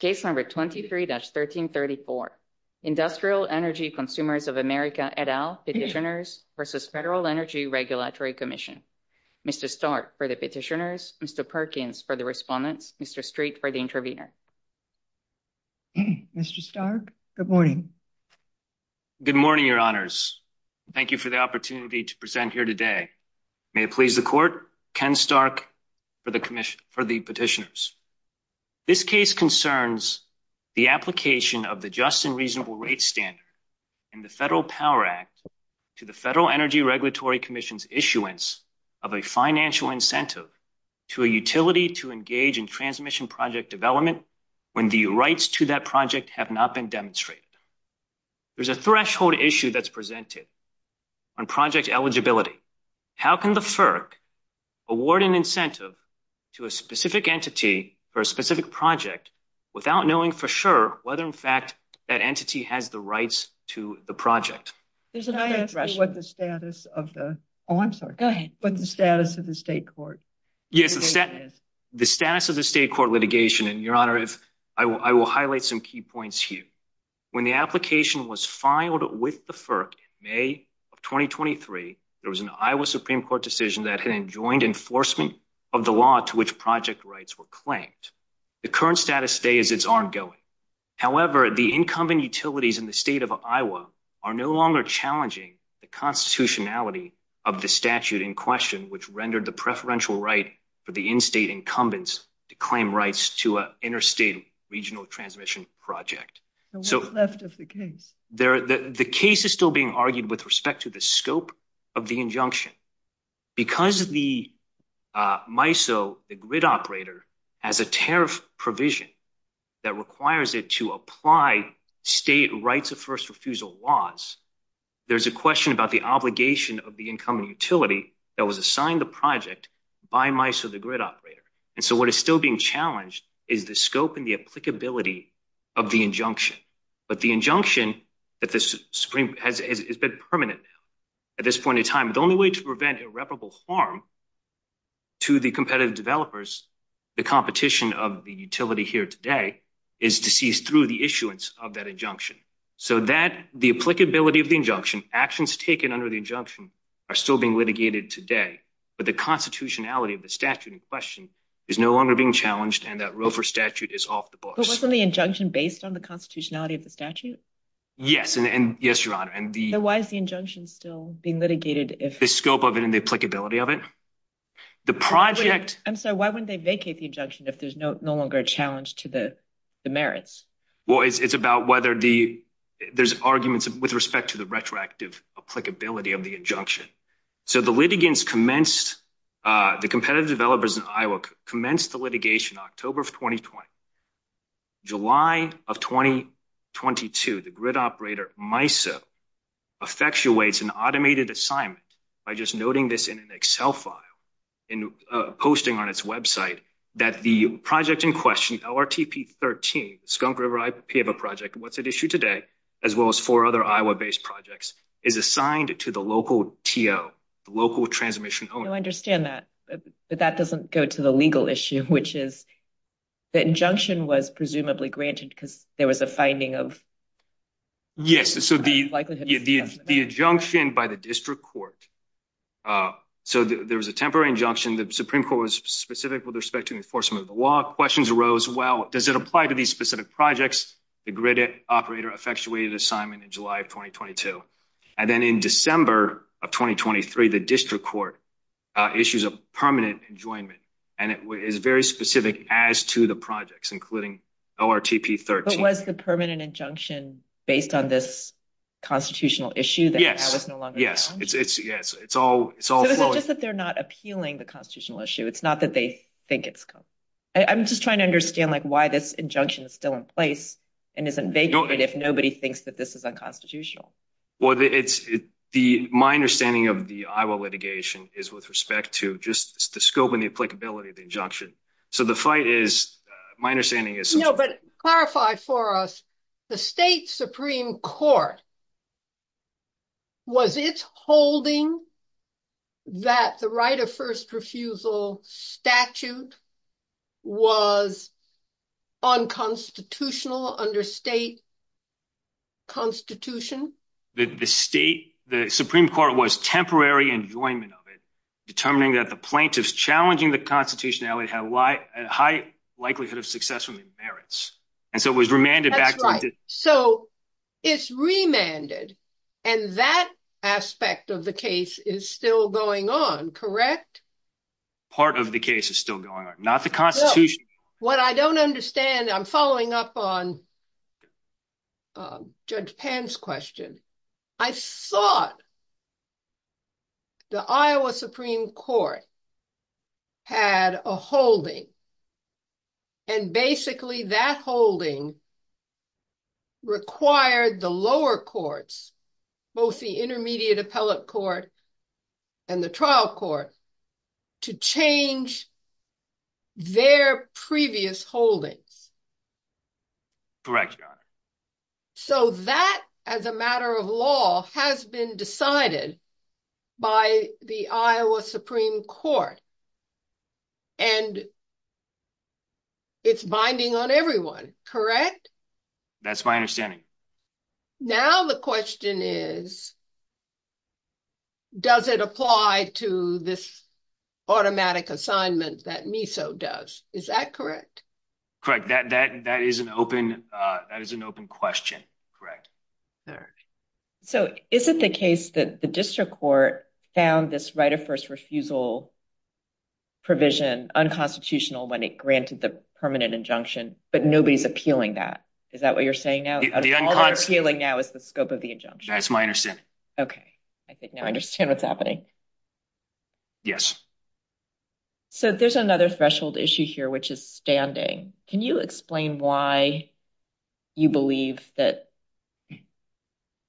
Case number 23-1334, Industrial Energy Consumers of America et al. Petitioners versus Federal Energy Regulatory Commission. Mr. Stark for the petitioners, Mr. Perkins for the respondents, Mr. Street for the intervener. Mr. Stark, good morning. Good morning, your honors. Thank you for the opportunity to present here today. May it please the court, Ken Stark for the commission, for the petitioners. This case concerns the application of the Just and Reasonable Rates Standard in the Federal Power Act to the Federal Energy Regulatory Commission's issuance of a financial incentive to a utility to engage in transmission project development when the rights to that project have not been demonstrated. There's a threshold issue that's presented on project eligibility. How can the FERC award an incentive to a specific entity for a specific project without knowing for sure whether in fact that entity has the rights to the project? Can I ask what the status of the, oh I'm sorry, what the status of the state court? The status of the state court litigation, and your honor, I will highlight some key points here. When the application was filed with the FERC in May of 2023, there was an Iowa Supreme Court decision that had enjoined enforcement of the law to which project rights were claimed. The current status today is it's ongoing. However, the incumbent utilities in the state of Iowa are no longer challenging the constitutionality of the statute in question, which rendered the preferential right for the in-state incumbents to claim rights to an interstate regional transmission project. So what's left of the case? The case is still being argued with respect to the scope of the injunction. Because the MISO, the grid operator, has a tariff provision that requires it to apply state rights of first refusal laws, there's a question about the obligation of the incumbent utility that was assigned the project by MISO, the grid operator. And so what is still being challenged is the scope and the applicability of the injunction. But the injunction that the Supreme has been permanent at this point in time, the only way to prevent irreparable harm to the competitive developers, the competition of the utility here today, is to cease through the issuance of that injunction. So that the applicability of the injunction, actions taken under the injunction, are still being litigated today. But the constitutionality of the statute in question is no longer being challenged, and that Roe v. Statute is off the books. But wasn't the injunction based on the constitutionality of the statute? Yes, your honor. And why is the injunction still being litigated? The scope of it and the applicability of it. I'm sorry, why wouldn't they vacate the injunction if there's no longer a challenge to the merits? Well, it's about whether there's arguments with respect to the retroactive applicability of the injunction. So the litigants commenced, the competitive developers in Iowa commenced the litigation in October of 2020. July of 2022, the grid operator MISO effectuates an automated assignment by just noting this in an Excel file and posting on its website that the project in question, LRTP 13, the Skunk River IPA project, what's at issue today, as well as four other Iowa-based projects, is assigned to the local TO, the local transmission owner. I understand that, but that doesn't go to the legal issue, which is the injunction was presumably granted because there was a finding of... Yes, so the injunction by the district court. So there was a temporary injunction. The Supreme Court was specific with respect to enforcement of the law. Questions arose, well, does it apply to specific projects? The grid operator effectuated assignment in July of 2022. And then in December of 2023, the district court issues a permanent enjoyment, and it is very specific as to the projects, including LRTP 13. But was the permanent injunction based on this constitutional issue that now is no longer challenged? Yes, it's all flowing. So it's not just that they're not appealing the constitutional issue, it's not that they think it's... I'm just trying to understand why this injunction is still in place and isn't vacant if nobody thinks that this is unconstitutional. Well, my understanding of the Iowa litigation is with respect to just the scope and the applicability of the injunction. So the fight is, my understanding is... No, but clarify for us, the state Supreme Court, was it holding that the right of first refusal statute was unconstitutional under state constitution? The state, the Supreme Court was temporary enjoyment of it, determining that the plaintiffs challenging the constitutionality had a high likelihood of successfully merits. And so it was remanded back to the district court. That's right. So it's remanded, and that aspect of the case is still going on, correct? Part of the case is still going on, not the constitution. What I don't understand, I'm following up on Judge Pan's question. I thought the Iowa Supreme Court had a holding, and basically that holding required the lower courts, both the intermediate appellate court and the trial court, to change their previous holdings. Correct, Your Honor. So that, as a matter of law, has been decided by the Iowa Supreme Court, and it's binding on everyone, correct? That's my understanding. Now the question is, does it apply to this automatic assignment that MISO does? Is that correct? Correct. That is an open question, correct. So is it the case that the district court found this right of first refusal provision unconstitutional when it granted the permanent injunction, but nobody's appealing that? Is that what you're saying now? All they're appealing now is the scope of the injunction. That's my understanding. Okay. I think now I understand what's happening. Yes. So there's another threshold issue here, which is standing. Can you explain why you believe that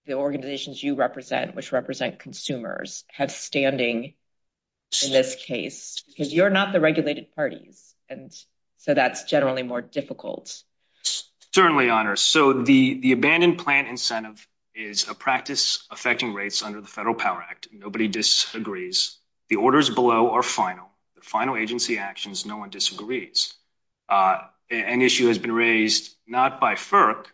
the organizations you represent, which represent consumers, have standing in this case? Because you're not the regulated parties, and so that's generally more difficult. Certainly, Your Honor. So the abandoned plant incentive is a practice affecting rates under the Federal Power Act. Nobody disagrees. The orders below are final. The final agency actions, no one disagrees. An issue has been raised, not by FERC,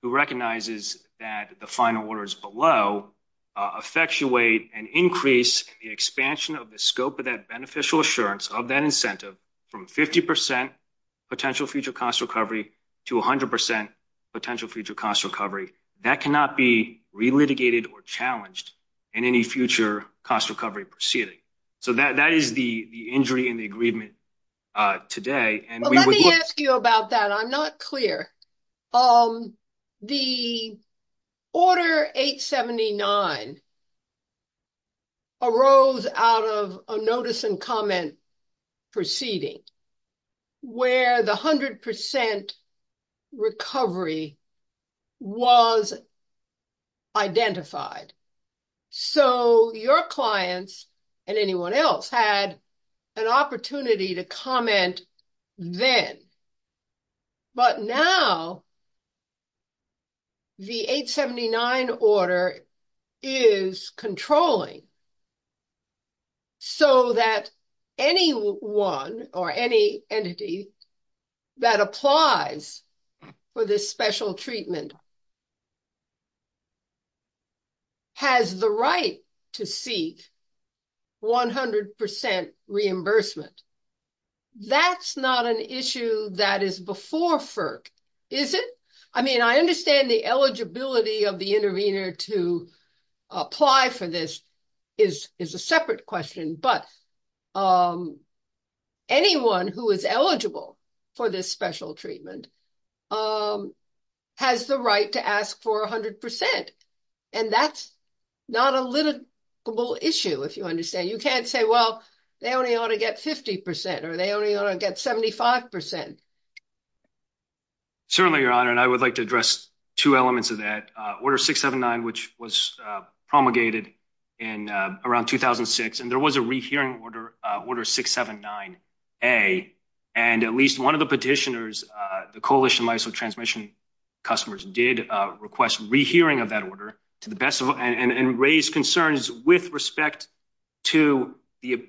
who recognizes that the final orders below effectuate and increase the expansion of the scope of that beneficial assurance of that incentive from 50% potential future cost recovery to 100% potential future cost recovery. That cannot be re-litigated or challenged in any future cost recovery proceeding. So that is the injury in the agreement today. Well, let me ask you about that. I'm not clear. The order 879 arose out of a notice and comment proceeding where the 100% recovery was identified. So your clients and anyone else had an opportunity to comment then. But now the 879 order is controlling so that anyone or any entity that applies for this special treatment has the right to seek 100% reimbursement. That's not an issue that is before FERC, is it? I mean, I understand the eligibility of the intervener to apply for this is a separate question, but anyone who is eligible for this special treatment has the right to ask for 100%. And that's not a litigable issue, if you understand. You can't say, well, they only ought to get 50% or they only ought to get 75%. Certainly, Your Honor, and I would like to address two elements of that. Order 679, which was promulgated around 2006, and there was a rehearing order, order 679-A, and at least one of the petitioners, the Coalition of Transmission Customers, did request rehearing of that order and raised concerns with respect to the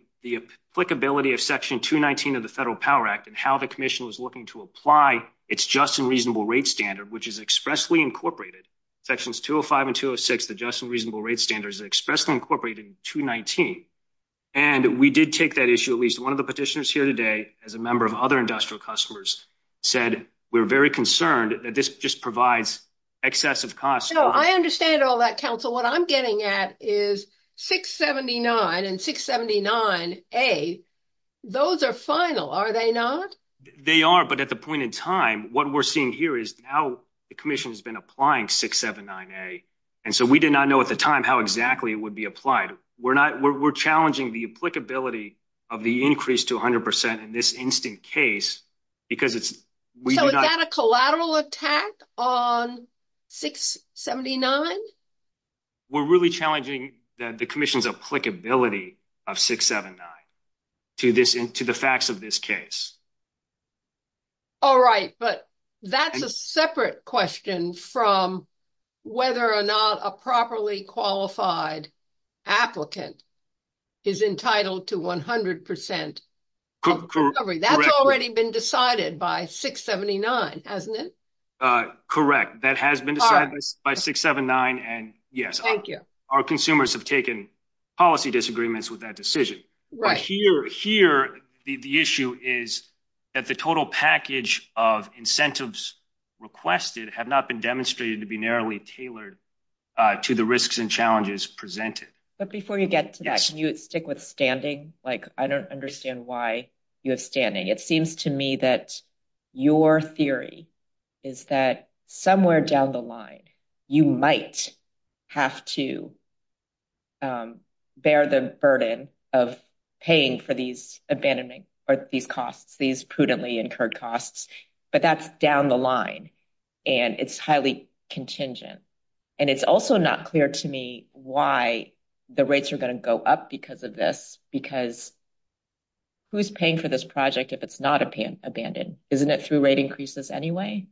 applicability of section 219 of the Federal Power Act and how the Commission was looking to apply its just and reasonable rate standard, which is expressly incorporated. Sections 205 and 206, the just and reasonable rate standards, are expressly incorporated in 219. And we did take that issue, at least one of the petitioners here today, as a member of other industrial customers, said, we're very concerned that this just provides excessive costs. No, I understand all that, counsel. What I'm getting at is 679 and 679-A, those are final, are they not? They are, but at the point in time, what we're seeing here is now the Commission has been applying 679-A, and so we did not know at the time how exactly it would be applied. We're not, we're challenging the applicability of the increase to 100% in this instant case because it's, we do not. So is that a collateral attack on 679? We're really challenging the Commission's applicability of 679 to the facts of this case. All right, but that's a separate question from whether or not a properly qualified applicant is entitled to 100% of the recovery. That's already been decided by 679, hasn't it? Correct, that has been decided by 679, and yes, our consumers have taken policy disagreements with that decision. But here, the issue is that the total package of incentives requested have not been demonstrated to be narrowly tailored to the risks and challenges presented. But before you get to that, can you stick with standing? I don't understand why you have standing. It seems to me that your theory is that somewhere down the line, you might have to bear the burden of paying for these abandonment, or these costs, these prudently incurred costs, but that's down the line, and it's highly contingent. And it's also not clear to me why the rates are going to go up because of this, because who's paying for this project if it's not abandoned? Isn't it through rate increases anyway?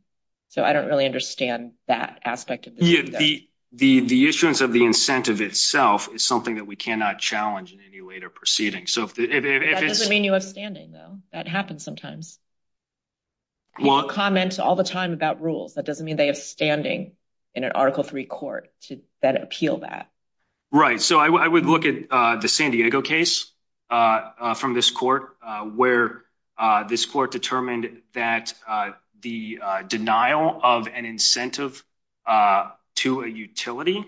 So I don't really understand that aspect. The issuance of the incentive itself is something that we cannot challenge in any later proceeding. That doesn't mean you have standing, though. That happens sometimes. People comment all the time about rules. That doesn't mean they have standing in an Article III court to then appeal that. Right, so I would look at the San Diego case from this court, where this court determined that the denial of an incentive to a utility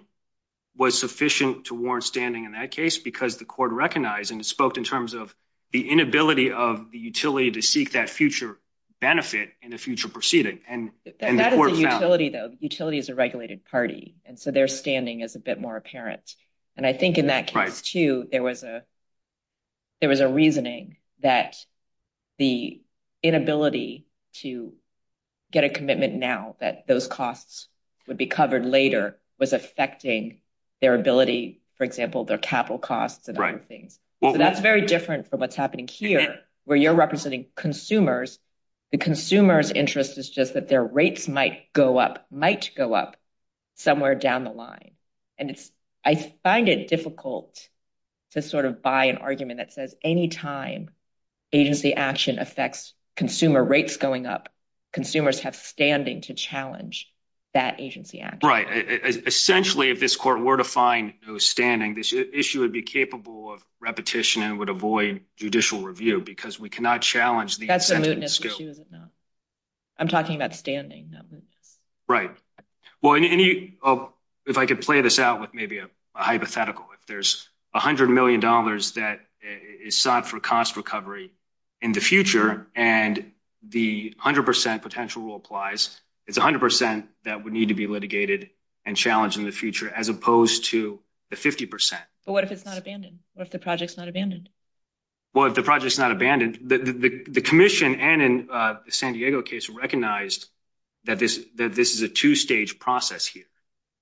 was sufficient to warrant standing in that case because the court recognized, and it spoke in terms of the inability of the utility to seek that future benefit in a future proceeding. That is a utility, though. Utility is a regulated party, and so their standing is a bit more And I think in that case, too, there was a reasoning that the inability to get a commitment now that those costs would be covered later was affecting their ability, for example, their capital costs and other things. So that's very different from what's happening here, where you're representing consumers. The consumer's interest is just that their rates might go up, somewhere down the line. And I find it difficult to sort of buy an argument that says, any time agency action affects consumer rates going up, consumers have standing to challenge that agency action. Right. Essentially, if this court were to find no standing, this issue would be capable of repetition and would avoid judicial review because we cannot challenge the incentive. No, I'm talking about standing. Right. Well, if I could play this out with maybe a hypothetical, if there's $100 million that is sought for cost recovery in the future, and the 100% potential rule applies, it's 100% that would need to be litigated and challenged in the future, as opposed to the 50%. But what if it's not abandoned? What if the project's not abandoned? Well, if the project's not abandoned, the commission and in the San Diego case recognized that this is a two-stage process here.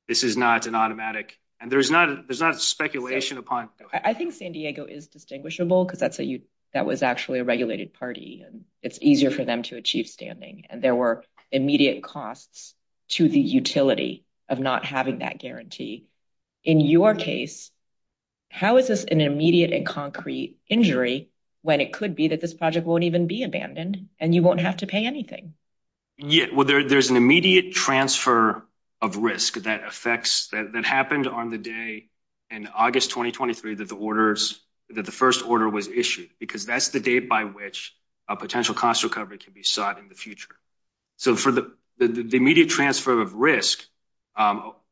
This is not an automatic, and there's not speculation upon. I think San Diego is distinguishable because that was actually a regulated party and it's easier for them to achieve standing. And there were immediate costs to the utility of not having that guarantee. In your case, how is this an immediate and concrete injury when it could be that this project won't even be abandoned and you won't have to pay anything? Well, there's an immediate transfer of risk that happened on the day in August 2023 that the first order was issued, because that's the date by which a potential cost recovery can be sought in the future. So for the immediate transfer of risk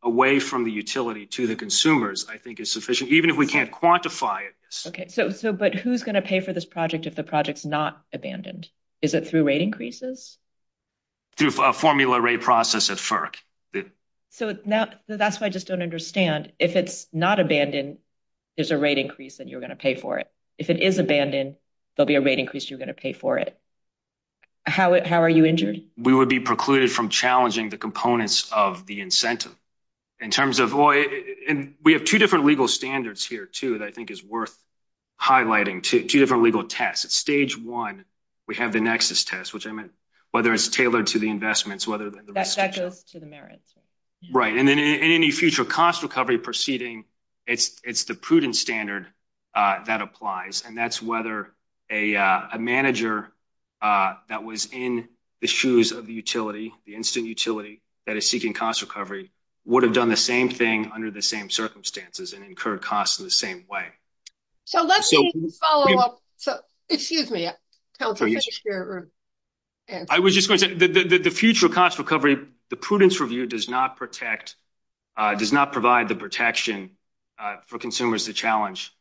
away from the utility to the consumers, I think is sufficient, even if we can't quantify it. But who's going to pay for this project if the project's not abandoned? Is it through rate increases? Through a formula rate process at FERC. So that's why I just don't understand. If it's not abandoned, there's a rate increase, and you're going to pay for it. If it is abandoned, there'll be a rate increase, you're going to pay for it. How are you injured? We would be precluded from challenging the components of the incentive. We have two different legal standards here, too, that I think is worth highlighting, two different legal tests. At stage one, we have the nexus test, which I meant whether it's tailored to the investments, whether the risk... That goes to the merits. Right. And then in any future cost recovery proceeding, it's the prudent standard that applies. And that's whether a manager that was in the shoes of the utility, the incident utility that is seeking cost recovery, would have done the same thing under the same circumstances and incurred costs in the same way. So let's follow up. Excuse me. I was just going to say, the future cost recovery, the prudence review does not protect, does not provide the protection for consumers to challenge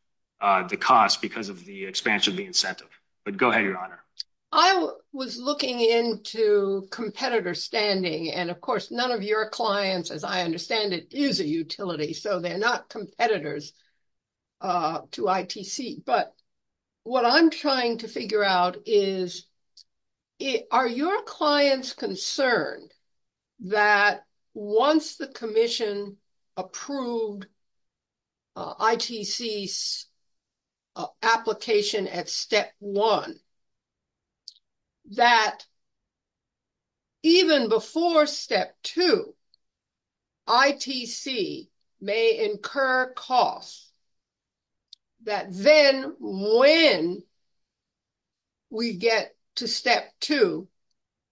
the cost because of the expansion of the incentive. But go ahead, Your Honor. I was looking into competitor standing, and of course, none of your clients, as I understand it, is a utility, so they're not competitors to ITC. But what I'm trying to figure out is, are your clients concerned that once the commission approved ITC's application at step one, that even before step two, ITC may incur costs that then when we get to step two,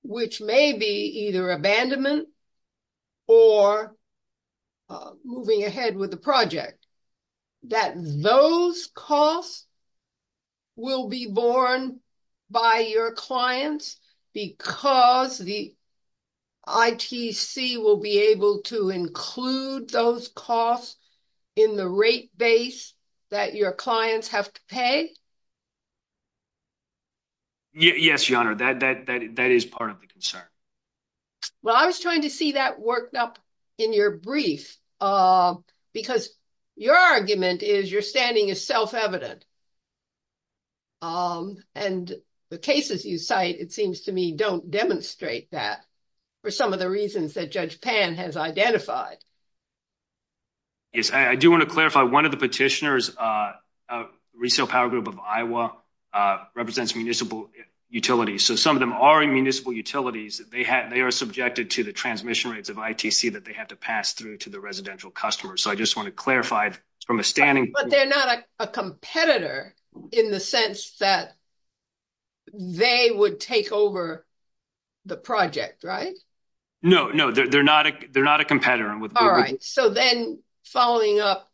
which may be either abandonment or moving ahead with the project, that those costs will be borne by your clients because the ITC will be able to include those costs in the rate base that your clients have to pay? Yes, Your Honor, that is part of the concern. Well, I was trying to see that worked up in your brief because your argument is, understanding is self-evident. And the cases you cite, it seems to me, don't demonstrate that for some of the reasons that Judge Pan has identified. Yes, I do want to clarify, one of the petitioners, a resale power group of Iowa, represents municipal utilities. So some of them are in municipal utilities. They are subjected to the transmission rates of ITC that they have to pass through to the residential customers. I just want to clarify from a standing point of view. But they're not a competitor in the sense that they would take over the project, right? No, no, they're not a competitor. All right, so then following up.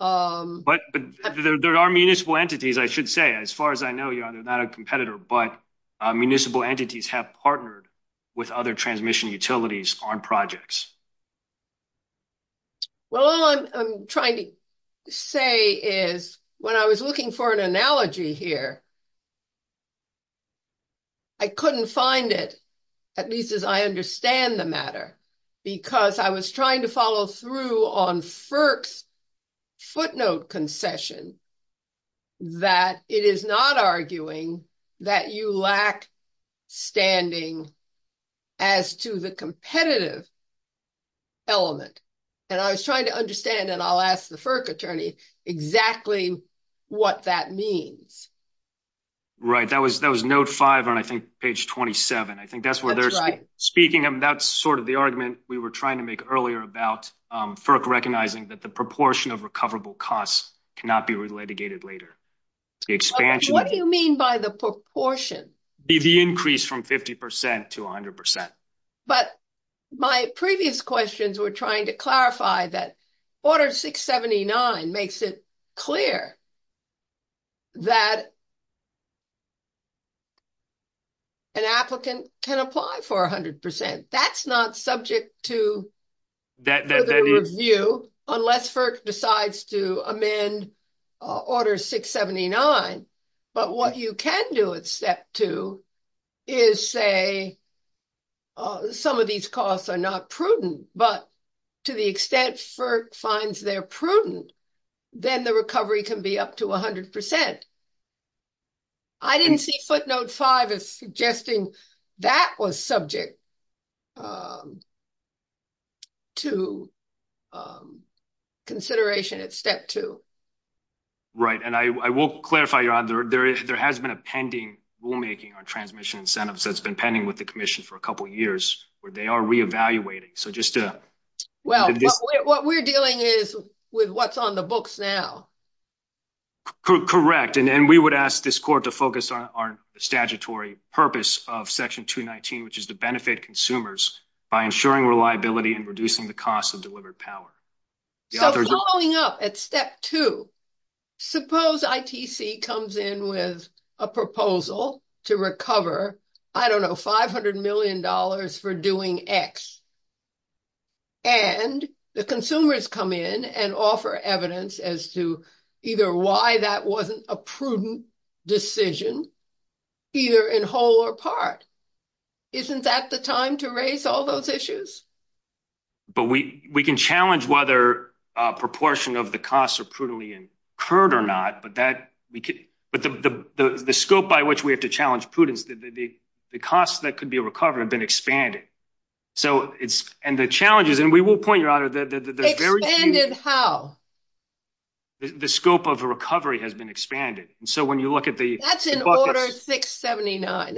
But there are municipal entities, I should say, as far as I know, Your Honor, they're not a competitor, but municipal entities have partnered with other transmission utilities on projects. Well, all I'm trying to say is, when I was looking for an analogy here, I couldn't find it, at least as I understand the matter, because I was trying to follow through on FERC's footnote concession, that it is not arguing that you lack standing as to the competitive element. And I was trying to understand, and I'll ask the FERC attorney, exactly what that means. Right, that was note five on, I think, page 27. I think that's where they're speaking of. That's sort of the argument we were trying to make earlier about FERC recognizing that the proportion of recoverable costs cannot be litigated later. What do you mean by the proportion? The increase from 50% to 100%. But my previous questions were trying to clarify that Order 679 makes it clear that an applicant can apply for 100%. That's not subject to further review, unless FERC decides to amend Order 679. But what you can do at step two is say, some of these costs are not prudent, but to the extent FERC finds they're prudent, then the recovery can be up to 100%. I didn't see footnote five as suggesting that was subject to consideration at step two. Right. And I will clarify, there has been a pending rulemaking on transmission incentives that's been pending with the Commission for a couple of years, where they are reevaluating. Well, what we're dealing is with what's on the books now. Correct. And we would ask this Court to focus on our statutory purpose of Section 219, which is to benefit consumers by ensuring reliability and reducing the cost of delivered power. So following up at step two, suppose ITC comes in with a proposal to recover, I don't know, $500 million for doing X. And the consumers come in and offer evidence as to either why that wasn't a prudent decision, either in whole or part. Isn't that the time to raise all those issues? But we can challenge whether a proportion of the costs are prudently incurred or not, but the scope by which we have to challenge prudence, the costs that could be recovered have been expanded. And the challenges, and we will point, they're very few. Expanded how? The scope of recovery has been expanded. And so when you look at the... That's in Order 679.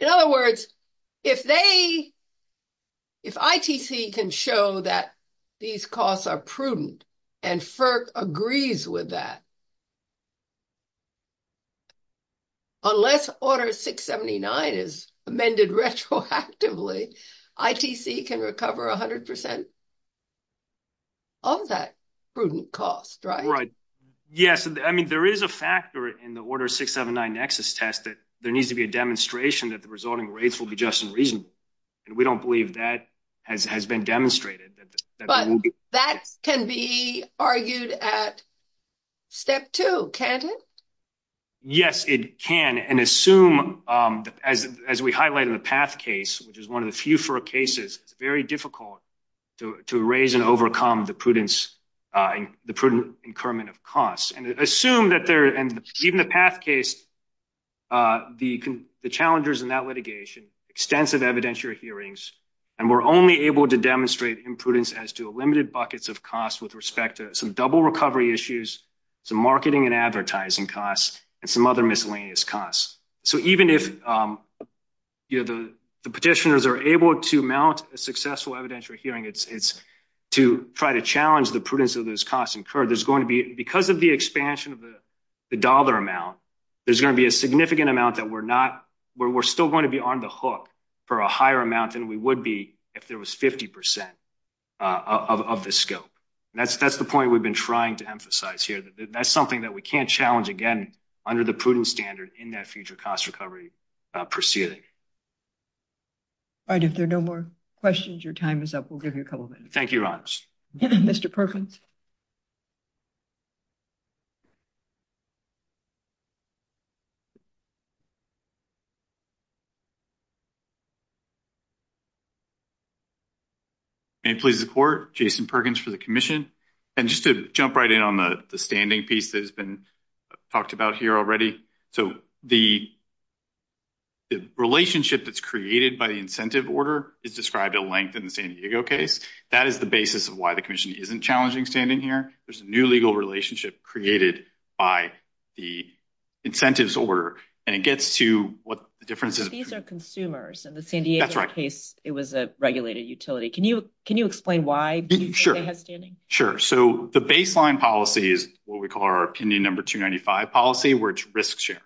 In other words, if ITC can show that these costs are prudent and FERC can show that these costs are prudent, all that prudent cost, right? Right. Yes. I mean, there is a factor in the Order 679 Nexus test that there needs to be a demonstration that the resulting rates will be just and reasonable. And we don't believe that has been demonstrated. But that can be argued at step two, can't it? Yes, it can. And assume, as we highlighted in the PATH case, which is one of the few cases, it's very difficult to raise and overcome the prudence, the prudent incurment of costs. And assume that there... And even the PATH case, the challengers in that litigation, extensive evidentiary hearings, and we're only able to demonstrate imprudence as to a limited buckets of costs with respect to some double recovery issues, some marketing and advertising costs, and some other miscellaneous costs. So even if the petitioners are able to mount a successful evidentiary hearing, it's to try to challenge the prudence of those costs incurred. There's going to be... Because of the expansion of the dollar amount, there's going to be a significant amount that we're still going to be on the hook for a higher amount than we would be if there was 50% of the scope. That's the point we've been trying to emphasize here. That's something that we can't challenge again under the prudence standard in that future cost recovery proceeding. All right. If there are no more questions, your time is up. We'll give you a couple of minutes. Thank you, Your Honors. Mr. Perkins. May it please the Court, Jason Perkins for the Commission. And just to jump right in on the standing piece that has been talked about here already. So the relationship that's created by the incentive order is described at length in the San Diego case. That is the basis of why the Commission isn't challenging standing here. There's a new legal relationship created by the incentives order. And it gets to what the difference is. These are consumers. In the San Diego case, it was a regulated utility. Can you explain why Sure. Sure. So the baseline policy is what we call our opinion number 295 policy where it's risk sharing.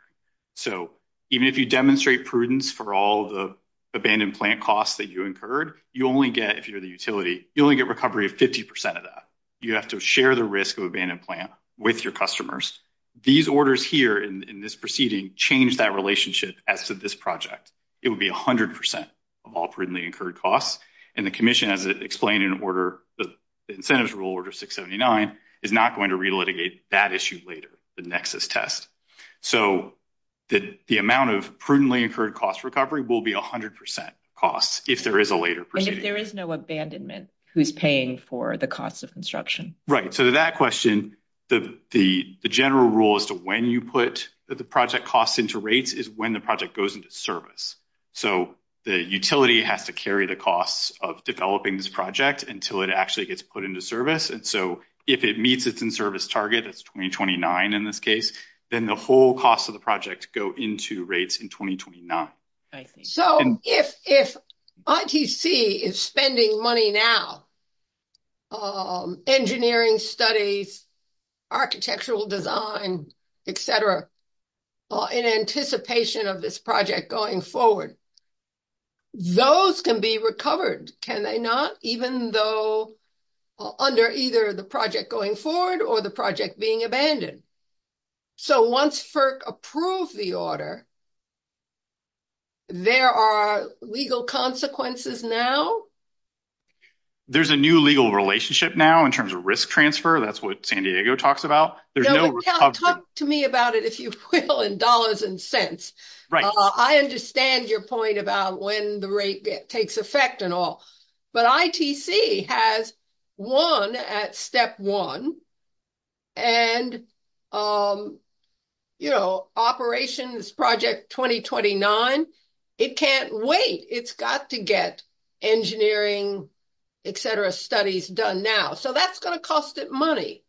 So even if you demonstrate prudence for all the abandoned plant costs that you incurred, you only get, if you're the utility, you only get recovery of 50% of that. You have to share the risk of abandoned plant with your customers. These orders here in this proceeding change that relationship as to this project. It would be 100% of all prudently incurred costs. And the Commission, as explained in order, the incentives rule order 679, is not going to relitigate that issue later, the nexus test. So the amount of prudently incurred cost recovery will be 100% costs if there is a later proceeding. And if there is no abandonment who's paying for the cost of construction. Right. So to that question, the general rule as to when you put the project costs into rates is when the project goes into service. So the utility has to carry the costs of developing this project until it actually gets put into service. And so if it meets its in-service target, it's 2029 in this case, then the whole cost of the project go into rates in 2029. So if ITC is spending money now, engineering studies, architectural design, et cetera, in anticipation of this project going forward, those can be recovered. Can they not? Even though under either the project going forward or the project being abandoned. So once FERC approved the order, there are legal consequences now. There's a new legal relationship now in terms of risk transfer. That's what San Diego talks about. You can talk to me about it, if you will, in dollars and cents. I understand your point about when the rate takes effect and all. But ITC has won at step one and operations project 2029. It can't wait. It's got to get engineering, et cetera, studies done now. So that's going to cost it money.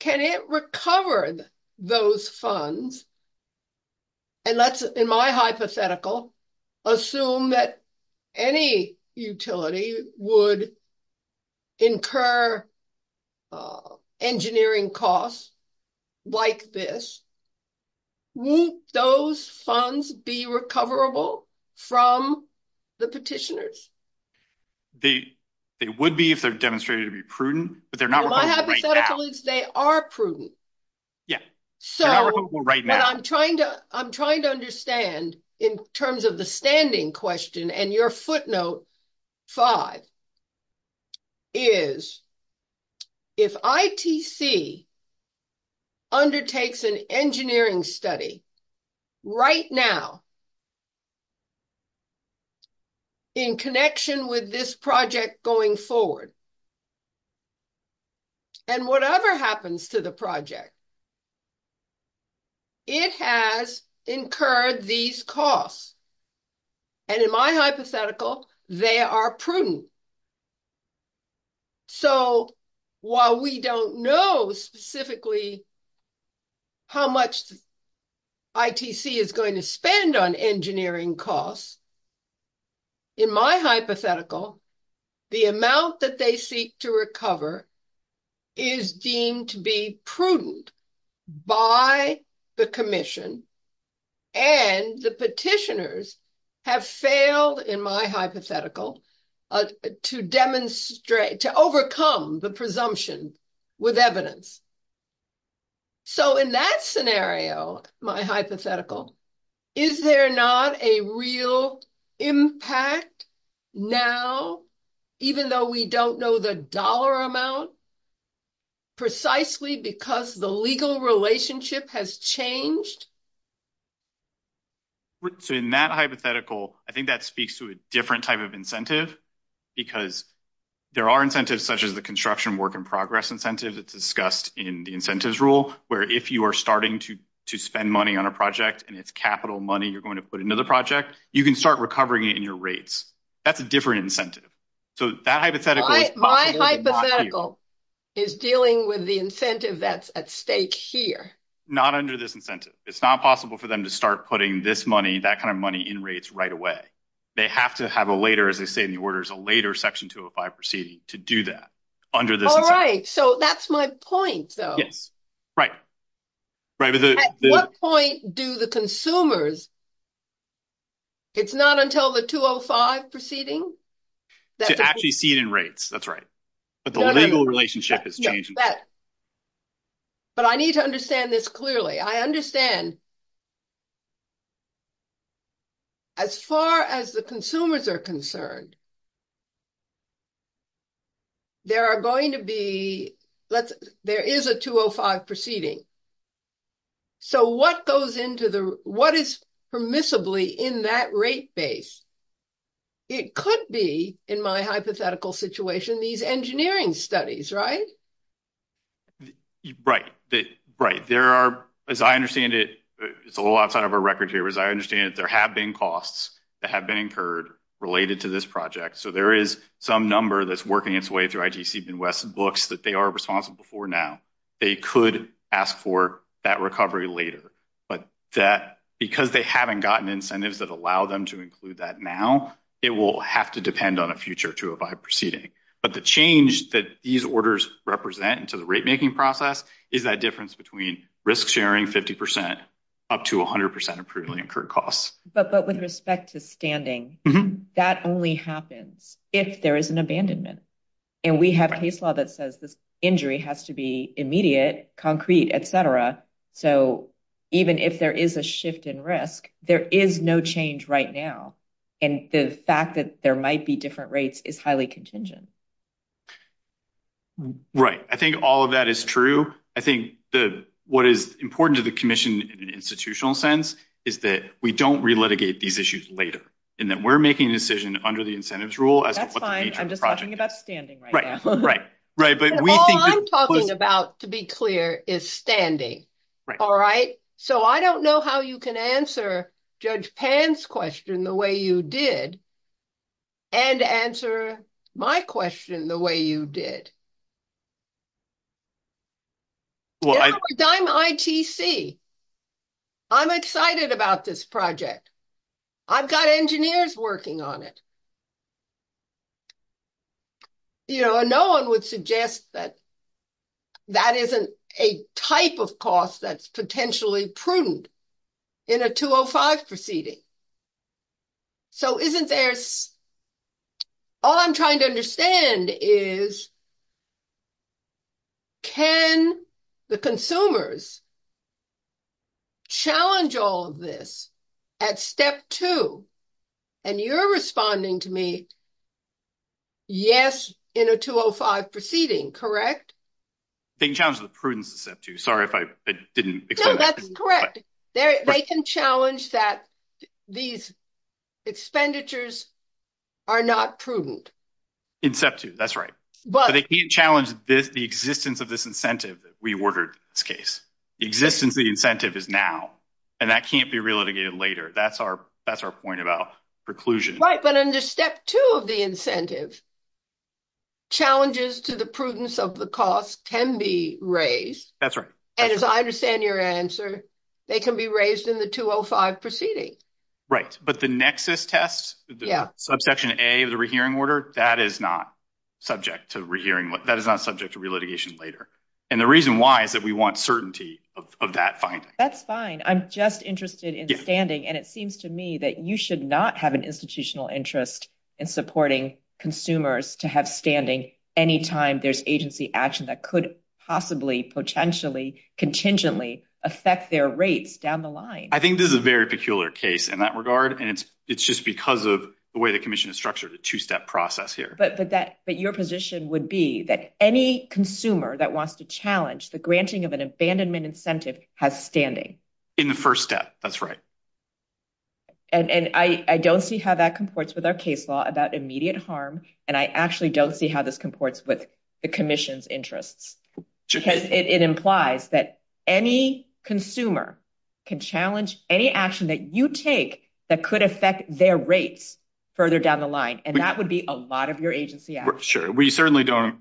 Can it recover those funds? And let's, in my hypothetical, assume that any utility would incur engineering costs like this. Won't those funds be recoverable from the petitioners? They would be if they're demonstrated to be prudent, but they're not. My hypothetical is they are prudent. Yeah, they're not recoverable right now. So what I'm trying to understand in terms of the standing question and your footnote five is if ITC undertakes an engineering study right now in connection with this project going forward, and whatever happens to the project, it has incurred these costs. And in my hypothetical, they are prudent. So while we don't know specifically how much ITC is going to spend on engineering costs, in my hypothetical, the amount that they seek to recover is deemed to be prudent by the commission and the petitioners have failed, in my hypothetical, to demonstrate, to overcome the presumption with evidence. So in that scenario, my hypothetical, is there not a real impact now, even though we don't know the dollar amount, precisely because the legal relationship has changed? So in that hypothetical, I think that speaks to a different type of incentive, because there are incentives such as the construction work in progress incentives. It's discussed in the incentives rule, where if you are starting to spend money on a project, and it's capital money, you're going to put into the project, you can start recovering it in your rates. That's a different incentive. So that hypothetical is possible. My hypothetical is dealing with the incentive that's at stake here. Not under this incentive. It's not possible for them to start putting this money, that kind of money in rates right away. They have to have a later, as they say in the orders, a later Section 205 proceeding to do that under this incentive. All right. So that's my point, though. Yes. Right. At what point do the consumers, it's not until the 205 proceeding? To actually see it in rates. That's right. But the legal relationship has changed. But I need to understand this clearly. I understand. As far as the consumers are concerned, there are going to be, there is a 205 proceeding. So what goes into the, what is permissibly in that rate base? It could be, in my hypothetical situation, these engineering studies, right? Right. Right. There are, as I understand it, it's a little outside of our record here, as I understand it, there have been costs that have been incurred related to this project. So there is some number that's working its way through IGC Ben West's books that they are responsible for now. They could ask for that recovery later. But that, because they haven't gotten incentives that allow them to include that now, it will have to depend on a future to abide proceeding. But the change that these orders represent into the rate making process is that difference between risk sharing 50% up to 100% of previously incurred costs. But with respect to standing, that only happens if there is an abandonment. And we have case law that says this injury has to be immediate, concrete, et cetera. So even if there is a shift in risk, there is no change right now. And the fact that there might be different rates is highly contingent. Right. I think all of that is true. I think the, what is important to the commission in an institutional sense is that we don't re-litigate these issues later. And then we're making a decision under the incentives rule as to what the future project is. Right. Right. Right. But we think that- All I'm talking about, to be clear, is standing. All right. So I don't know how you can answer Judge Pan's question the way you did and answer my question the way you did. Well, I- Because I'm ITC. I'm excited about this project. I've got engineers working on it. You know, no one would suggest that that isn't a type of cost that's potentially prudent in a 205 proceeding. So isn't there, all I'm trying to understand is, can the consumers challenge all of this at step two? And you're responding to me, yes, in a 205 proceeding, correct? They can challenge the prudence of step two. Sorry if I didn't explain that. No, that's correct. They can challenge that these expenditures are not prudent. In step two, that's right. But- But they can't challenge the existence of this incentive that we ordered in this case. The existence of the incentive is now, and that can't be re-litigated later. That's our point about preclusion. Right, but under step two of the incentive, challenges to the prudence of the cost can be raised. That's right. And as I understand your answer, they can be raised in the 205 proceeding. Right. But the nexus test, the subsection A of the rehearing order, that is not subject to rehearing. That is not subject to re-litigation later. And the reason why is that we want certainty of that finding. That's fine. I'm just interested in standing, and it seems to me that you should not have institutional interest in supporting consumers to have standing any time there's agency action that could possibly, potentially, contingently affect their rates down the line. I think this is a very peculiar case in that regard, and it's just because of the way the commission is structured, a two-step process here. But your position would be that any consumer that wants to challenge the granting of an abandonment incentive has standing. In the first step, that's right. And I don't see how that comports with our case law about immediate harm, and I actually don't see how this comports with the commission's interests, because it implies that any consumer can challenge any action that you take that could affect their rates further down the line, and that would be a lot of your agency action. Sure. We certainly don't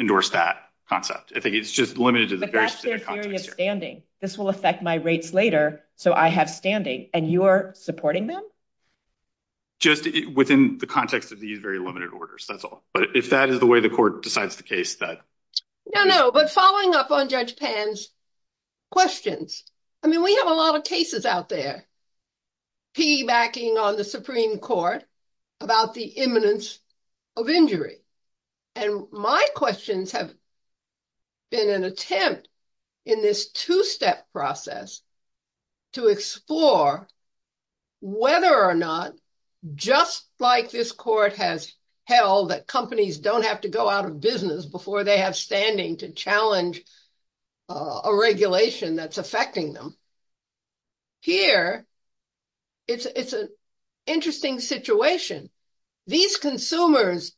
endorse that concept. I think it's just limited to the very specific context here. But that's their theory of standing. This will affect my rates later, so I have standing. And you're supporting them? Just within the context of these very limited orders, that's all. But if that is the way the court decides the case, that is. No, no. But following up on Judge Pan's questions, I mean, we have a lot of cases out there, P backing on the Supreme Court about the imminence of injury. And my questions have been an attempt in this two-step process to explore whether or not, just like this court has held that companies don't have to go out of business before they have standing to challenge a regulation that's affecting them. Here, it's an interesting situation. These consumers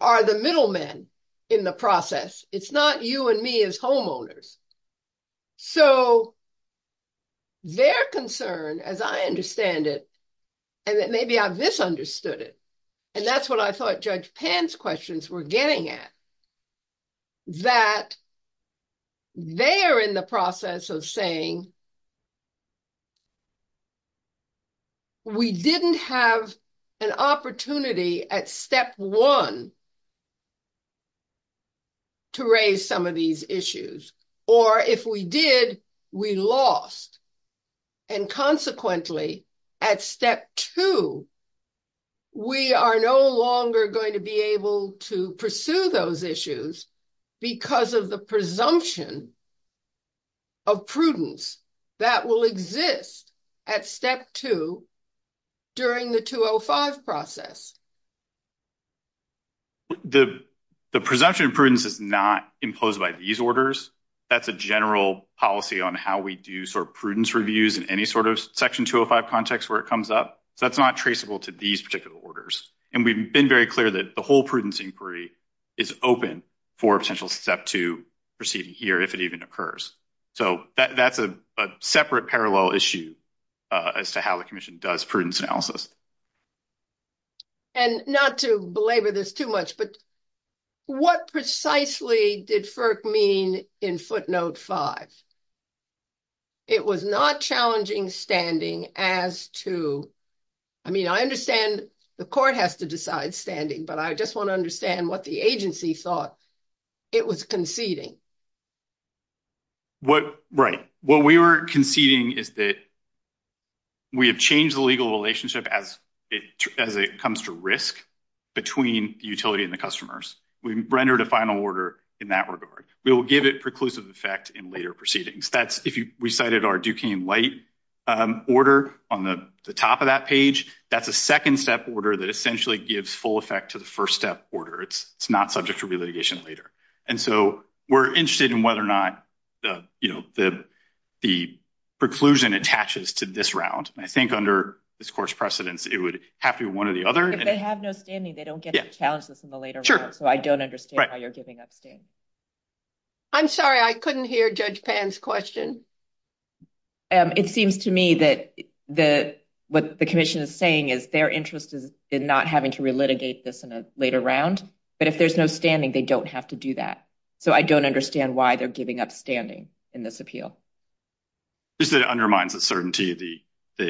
are the middlemen in the process. It's not you and me as homeowners. So their concern, as I understand it, and maybe I misunderstood it, and that's what I thought Judge Pan's questions were getting at, that they are in the process of saying, we didn't have an opportunity at step one to raise some of these issues. Or if we did, we lost. And consequently, at step two, we are no longer going to be able to pursue those issues because of the presumption of prudence that will exist at step two during the 205 process. The presumption of prudence is not imposed by these orders. That's a general policy on how we do sort of prudence reviews in any sort of section 205 context where it comes up. So that's not traceable to these particular orders. And we've been very clear that the whole prudence inquiry is open for potential step two proceeding here if it even occurs. So that's a separate parallel issue as to how the commission does prudence analysis. And not to belabor this too much, but what precisely did FERC mean in footnote five? It was not challenging standing as to, I mean, I understand the court has to decide standing, but I just want to understand what the agency thought it was conceding. What, right. What we were conceding is that we have changed the legal relationship as it comes to risk between the utility and the customers. We rendered a final order in that regard. We will give it preclusive effect in later proceedings. That's if we cited our Duquesne light order on the top of that page, that's a second step order that essentially gives full effect to the first step order. It's not subject to re-litigation later. And so we're interested in whether or not the, you know, the preclusion attaches to this round. I think under this court's precedence, it would have to be one or the other. If they have no standing, they don't get to challenge this in the later round. So I don't understand why you're giving up standing. I'm sorry, I couldn't hear Judge Pan's question. It seems to me that what the commission is saying is their interest is in not having to re-litigate this in a later round. But if there's no standing, they don't have to do that. So I don't understand why they're giving up standing in this appeal. Just that it undermines the certainty of the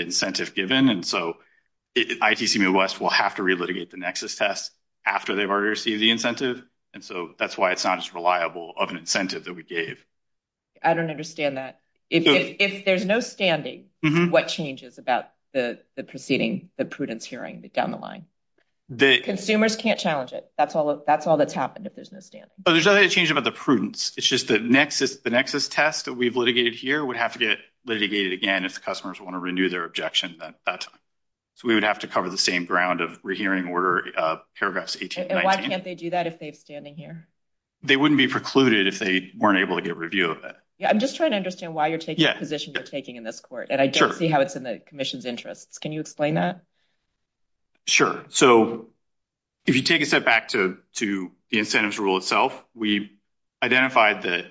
incentive given. And so ITC Midwest will have to re-litigate the nexus test after they've already received the incentive. And so that's why it's not as reliable of an incentive that we gave. I don't understand that. If there's no standing, what changes about the proceeding, the prudence hearing down the line? Consumers can't challenge it. That's all that's happened if there's no standing. Oh, there's nothing to change about the prudence. It's just the nexus test that we've litigated here would have to get litigated again if the customers want to renew their objection at that time. So we would have to cover the same ground of re-hearing order paragraphs 18 and 19. Can't they do that if they've standing here? They wouldn't be precluded if they weren't able to get review of it. Yeah, I'm just trying to understand why you're taking the position you're taking in this court. And I don't see how it's in the commission's interests. Can you explain that? Sure. So if you take a step back to the incentives rule itself, we identified that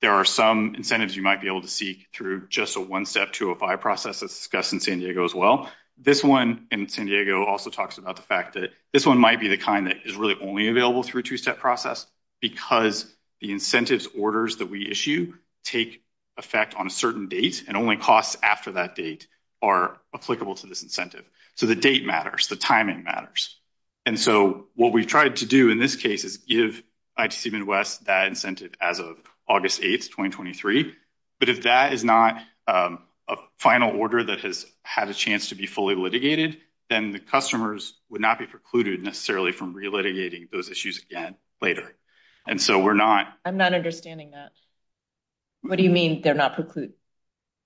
there are some incentives you might be able to seek through just a one-step 205 process as discussed in San Diego as well. This one in San Diego also talks about the fact that this one might be the kind that is really only available through a two-step process because the incentives orders that we issue take effect on a certain date and only costs after that date are applicable to this incentive. So the date matters. The timing matters. And so what we've tried to do in this case is give ITC Midwest that incentive as of August 8, 2023. But if that is not a final order that has had a chance to be fully litigated, then the customers would not be precluded necessarily from re-litigating those issues again later. And so we're not... I'm not understanding that. What do you mean they're not precluded?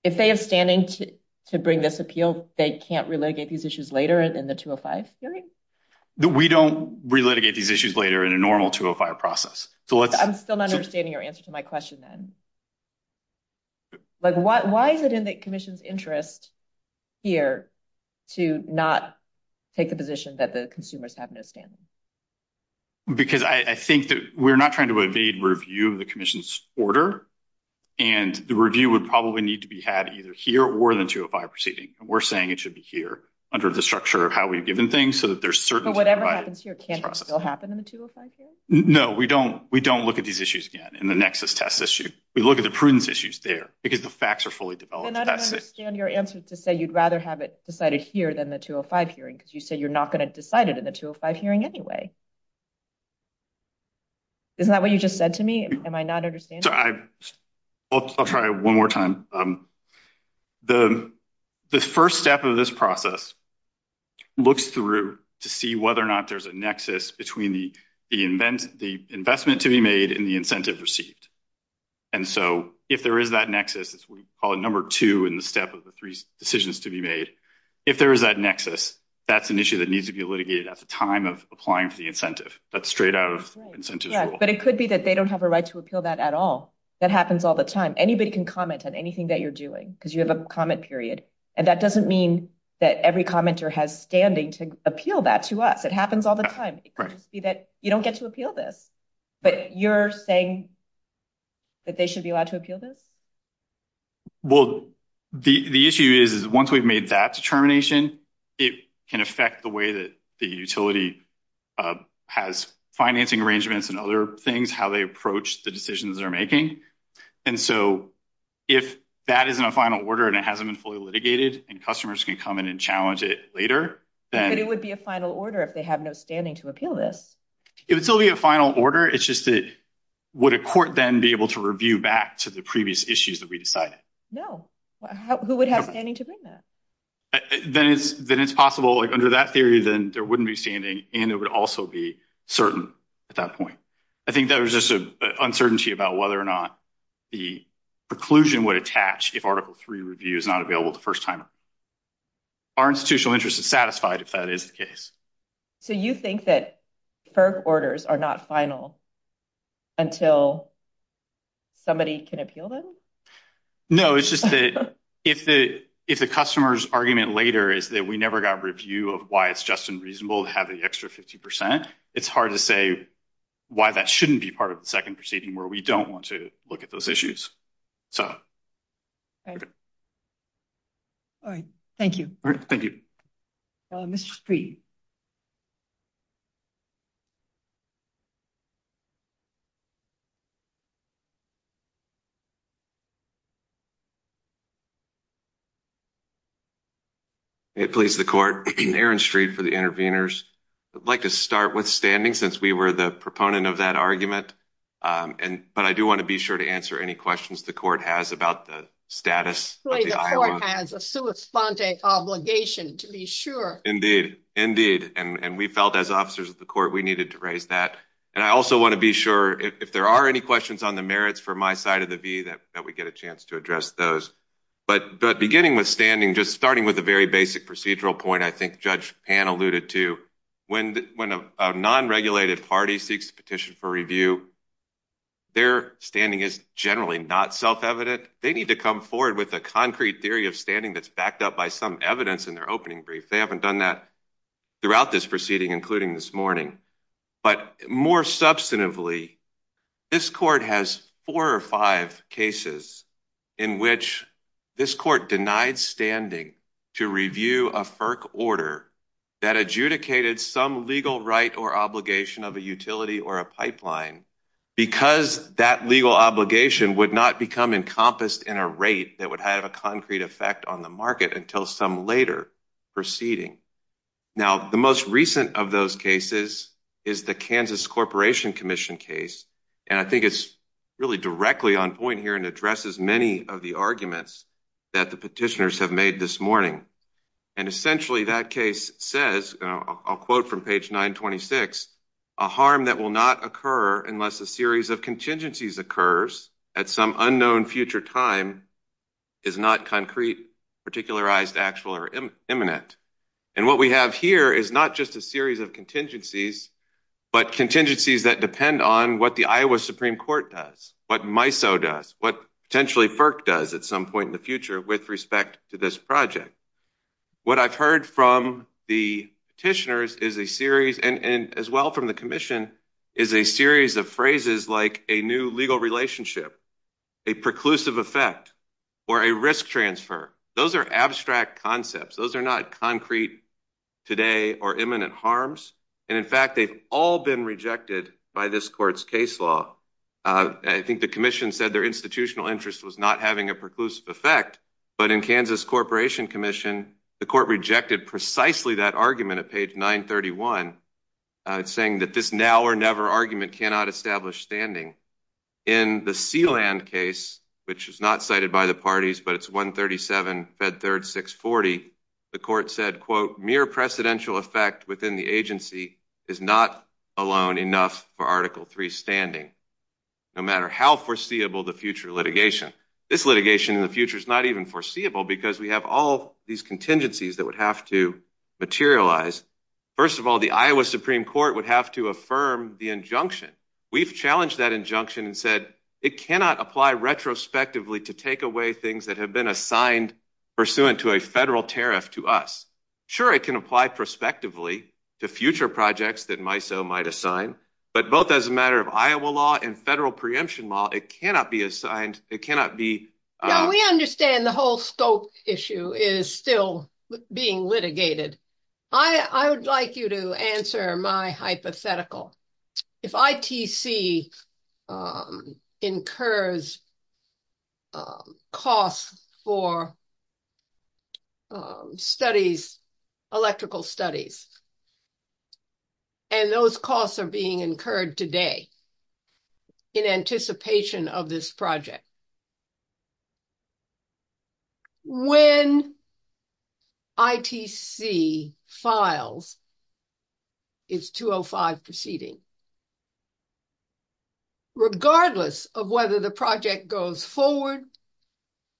If they have standing to bring this appeal, they can't re-litigate these issues later in the 205? We don't re-litigate these issues later in a normal 205 process. So let's... I'm still not understanding your answer to my question then. Like, why is it in the Commission's interest here to not take the position that the consumers have no standing? Because I think that we're not trying to evade review of the Commission's order and the review would probably need to be had either here or in the 205 proceeding. We're saying it should be here under the structure of how we've given things so that there's certainty... But whatever happens here, can it still happen in the 205 case? No, we don't. We don't look at these issues again in the Nexus test issue. We look at the prudence issues there because the facts are fully developed. And I don't understand your answer to say you'd rather have it decided here than the 205 hearing because you say you're not going to decide it in the 205 hearing anyway. Isn't that what you just said to me? Am I not understanding? I'll try one more time. The first step of this process looks through to see whether or not there's a nexus between the investment to be made and the incentive received. If there is that nexus, we call it number two in the step of the three decisions to be made. If there is that nexus, that's an issue that needs to be litigated at the time of applying for the incentive. That's straight out of the incentives rule. But it could be that they don't have a right to appeal that at all. That happens all the time. Anybody can comment on anything that you're doing because you have a comment period. And that doesn't mean that every commenter has standing to appeal that to us. It happens all the time. It could just be that you don't get to appeal this, but you're saying that they should be allowed to appeal this? Well, the issue is once we've made that determination, it can affect the way that the utility has financing arrangements and other things, how they approach the decisions they're making. And so if that isn't a final order and it hasn't been fully litigated and customers can come in and challenge it later, then... But it would be a final order if they have no standing to appeal this. It would still be a final order. It's just that would a court then be able to review back to the previous issues that we decided? No. Who would have standing to bring that? Then it's possible under that theory, then there wouldn't be standing. And it would also be certain at that point. I think there was just an uncertainty about whether or not the preclusion would attach if Article III review is not available the first time. Our institutional interest is satisfied if that is the case. So you think that FERC orders are not final until somebody can appeal them? No, it's just that if the customer's argument later is that we never got a review of why it's just and reasonable to have the extra 50%, it's hard to say why that shouldn't be part of the second proceeding where we don't want to look at those issues. All right. Thank you. All right. Thank you. Mr. Street. May it please the court. Aaron Street for the interveners. I'd like to start with standing since we were the proponent of that argument. But I do want to be sure to answer any questions the court has about the status. The court has a sui sponte obligation to be sure. Indeed. Indeed. And we felt as officers of the court, we needed to raise that. And I also want to be sure if there are any questions on the merits for my side of the V, that we get a chance to address those. But beginning with standing, just starting with a very basic procedural point, I think Judge Pan alluded to when a non-regulated party seeks a petition for review, their standing is generally not self-evident. They need to come forward with a concrete theory of standing that's backed up by some evidence in their opening brief. They haven't done that throughout this proceeding, including this morning. But more substantively, this court has four or five cases in which this court denied standing to review a FERC order that adjudicated some legal right or obligation of a utility or a pipeline because that legal obligation would not become encompassed in a rate that would have a concrete effect on the market until some later proceeding. Now, the most recent of those cases is the Kansas Corporation Commission case. And I think it's really directly on point here and addresses many of the arguments that the petitioners have made this morning. And essentially, that case says, I'll quote from page 926, a harm that will not occur unless a series of contingencies occurs at some unknown future time is not concrete, particularized, actual, or imminent. And what we have here is not just a series of contingencies, but contingencies that depend on what the Iowa Supreme Court does, what MISO does, what potentially FERC does at some point in the future with respect to this project. What I've heard from the petitioners is a series, and as well from the commission, is a series of phrases like a new legal relationship, a preclusive effect, or a risk transfer. Those are abstract concepts. Those are not concrete today or imminent harms. And in fact, they've all been rejected by this court's case law. I think the commission said their institutional interest was not having a preclusive effect. But in Kansas Corporation Commission, the court rejected precisely that argument at page 931, saying that this now or never argument cannot establish standing. In the Sealand case, which is not cited by the parties, but it's 137 Fed Third 640, the court said, quote, mere precedential effect within the agency is not alone enough for Article III standing, no matter how foreseeable the future litigation. This litigation in the future is not even foreseeable, because we have all these contingencies that would have to materialize. First of all, the Iowa Supreme Court would have to affirm the injunction. We've challenged that injunction and said it cannot apply retrospectively to take away things that have been assigned pursuant to a federal tariff to us. Sure, it can apply prospectively to future projects that MISO might assign, but both as a matter of Iowa law and federal preemption law, it cannot be assigned, it cannot be. We understand the whole scope issue is still being litigated. I would like you to answer my hypothetical. If ITC incurs costs for studies, electrical studies, and those costs are being incurred today in anticipation of this project, when ITC files its 205 proceeding, regardless of whether the project goes forward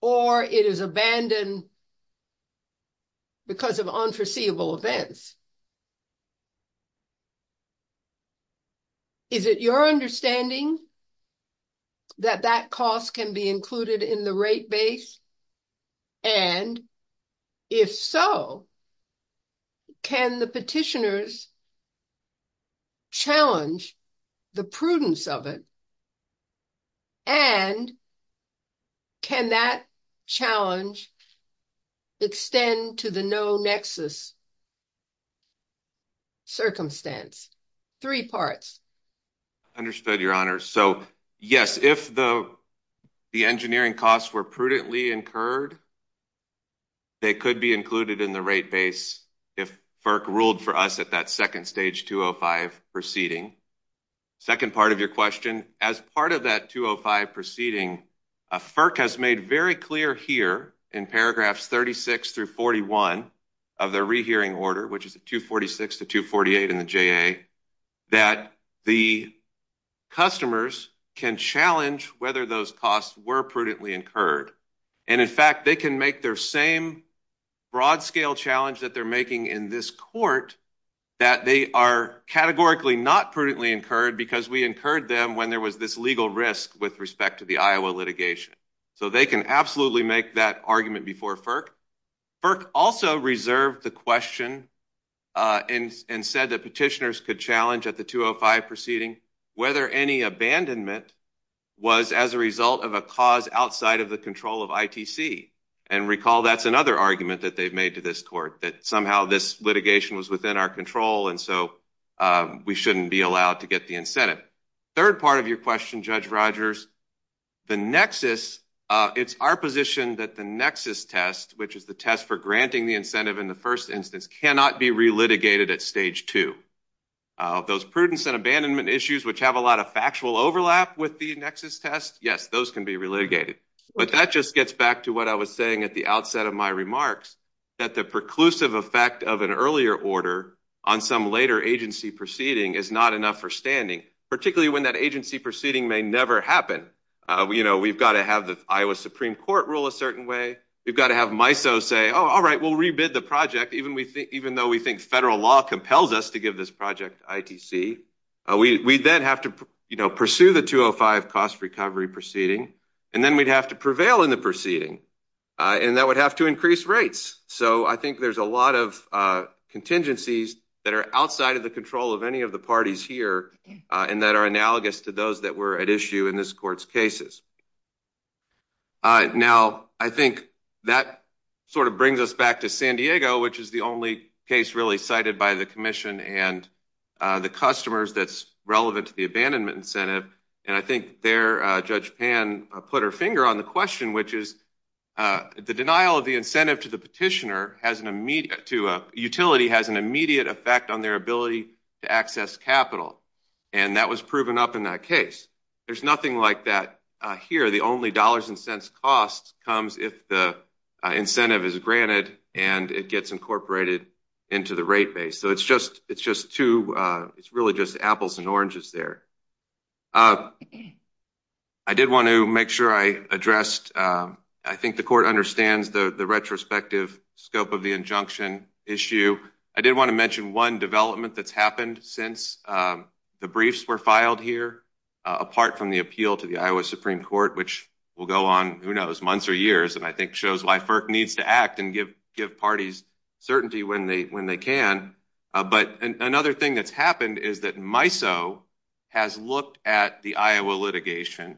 or it is abandoned because of unforeseeable events, is it your understanding that that cost can be included in the rate base? And if so, can the petitioners challenge the prudence of it? And can that challenge extend to the no nexus circumstance? Three parts. Understood, Your Honor. So, yes, if the engineering costs were prudently incurred, they could be included in the rate base if FERC ruled for us at that second stage 205 proceeding. Second part of your question. As part of that 205 proceeding, FERC has made very clear here in paragraphs 36 through 41 of their rehearing order, which is 246 to 248 in the JA, that the customers can challenge whether those costs were prudently incurred. And in fact, they can make their same broad scale challenge that they're making in this court that they are categorically not prudently incurred because we incurred them when there was this legal risk with respect to the Iowa litigation. So they can absolutely make that argument before FERC. FERC also reserved the question and said that petitioners could challenge at the 205 proceeding whether any abandonment was as a result of a cause outside of the control of ITC. And recall, that's another argument that they've made to this court, that somehow this litigation was within our control and so we shouldn't be allowed to get the incentive. Third part of your question, Judge Rogers. The nexus, it's our position that the nexus test, which is the test for granting the incentive in the first instance, cannot be re-litigated at stage two. Those prudence and abandonment issues, which have a lot of factual overlap with the nexus test, yes, those can be re-litigated. But that just gets back to what I was saying at the outset of my remarks, that the preclusive effect of an earlier order on some later agency proceeding is not enough for standing, particularly when that agency proceeding may never happen. We've got to have the Iowa Supreme Court rule a certain way. We've got to have MISO say, oh, all right, we'll re-bid the project, even though we think federal law compels us to give this project ITC. We then have to pursue the 205 cost recovery proceeding, and then we'd have to prevail in the proceeding. And that would have to increase rates. So I think there's a lot of contingencies that are outside of the control of any of the parties here and that are analogous to those that were at issue in this court's cases. Now, I think that sort of brings us back to San Diego, which is the only case really cited by the commission and the customers that's relevant to the abandonment incentive. And I think there, Judge Pan put her finger on the question, which is the denial of the incentive to the petitioner has an immediate, to a utility, has an immediate effect on their ability to access capital. And that was proven up in that case. There's nothing like that here. The only dollars and cents cost comes if the incentive is granted and it gets incorporated into the rate base. So it's just two, it's really just apples and oranges there. Uh, I did want to make sure I addressed, I think the court understands the retrospective scope of the injunction issue. I did want to mention one development that's happened since the briefs were filed here, apart from the appeal to the Iowa Supreme Court, which will go on, who knows, months or years. And I think shows why FERC needs to act and give parties certainty when they can. But another thing that's happened is that MISO has looked at the Iowa litigation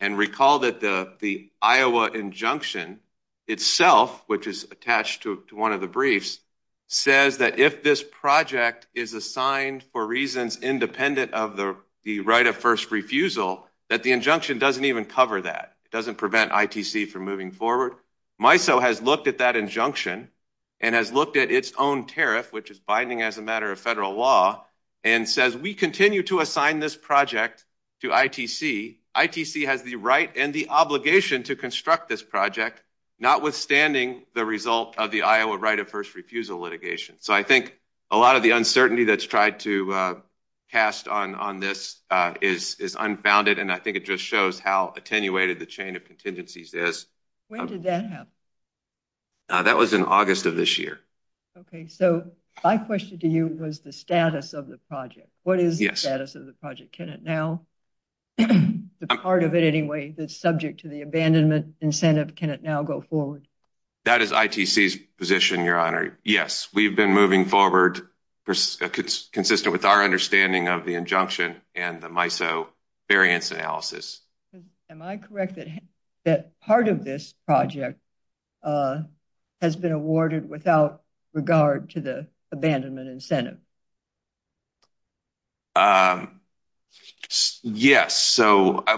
and recall that the Iowa injunction itself, which is attached to one of the briefs, says that if this project is assigned for reasons independent of the right of first refusal, that the injunction doesn't even cover that. It doesn't prevent ITC from moving forward. MISO has looked at that injunction and has looked at its own tariff, which is binding as a matter of federal law, and says we continue to assign this project to ITC. ITC has the right and the obligation to construct this project, notwithstanding the result of the Iowa right of first refusal litigation. So I think a lot of the uncertainty that's tried to cast on this is unfounded. And I think it just shows how attenuated the chain of contingencies is. When did that happen? That was in August of this year. Okay, so my question to you was the status of the project. What is the status of the project? Can it now, the part of it anyway that's subject to the abandonment incentive, can it now go forward? That is ITC's position, Your Honor. Yes, we've been moving forward, consistent with our understanding of the injunction and the MISO variance analysis. Am I correct that part of this project has been awarded without regard to the abandonment incentive? Yes. Well, I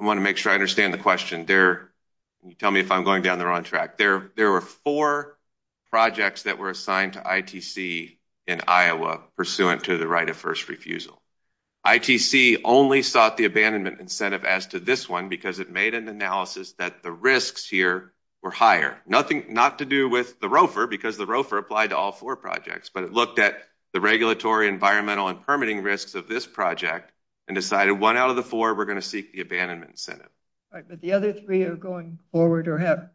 want to make sure I understand the question. Can you tell me if I'm going down the wrong track? There were four projects that were assigned to ITC in Iowa pursuant to the right of first refusal. ITC only sought the abandonment incentive as to this one because it made an analysis that the risks here were higher. Not to do with the ROFR because the ROFR applied to all four projects, but it looked at the regulatory, environmental, and permitting risks of this project and decided one out of the four were going to seek the abandonment incentive. Right, but the other three are going forward or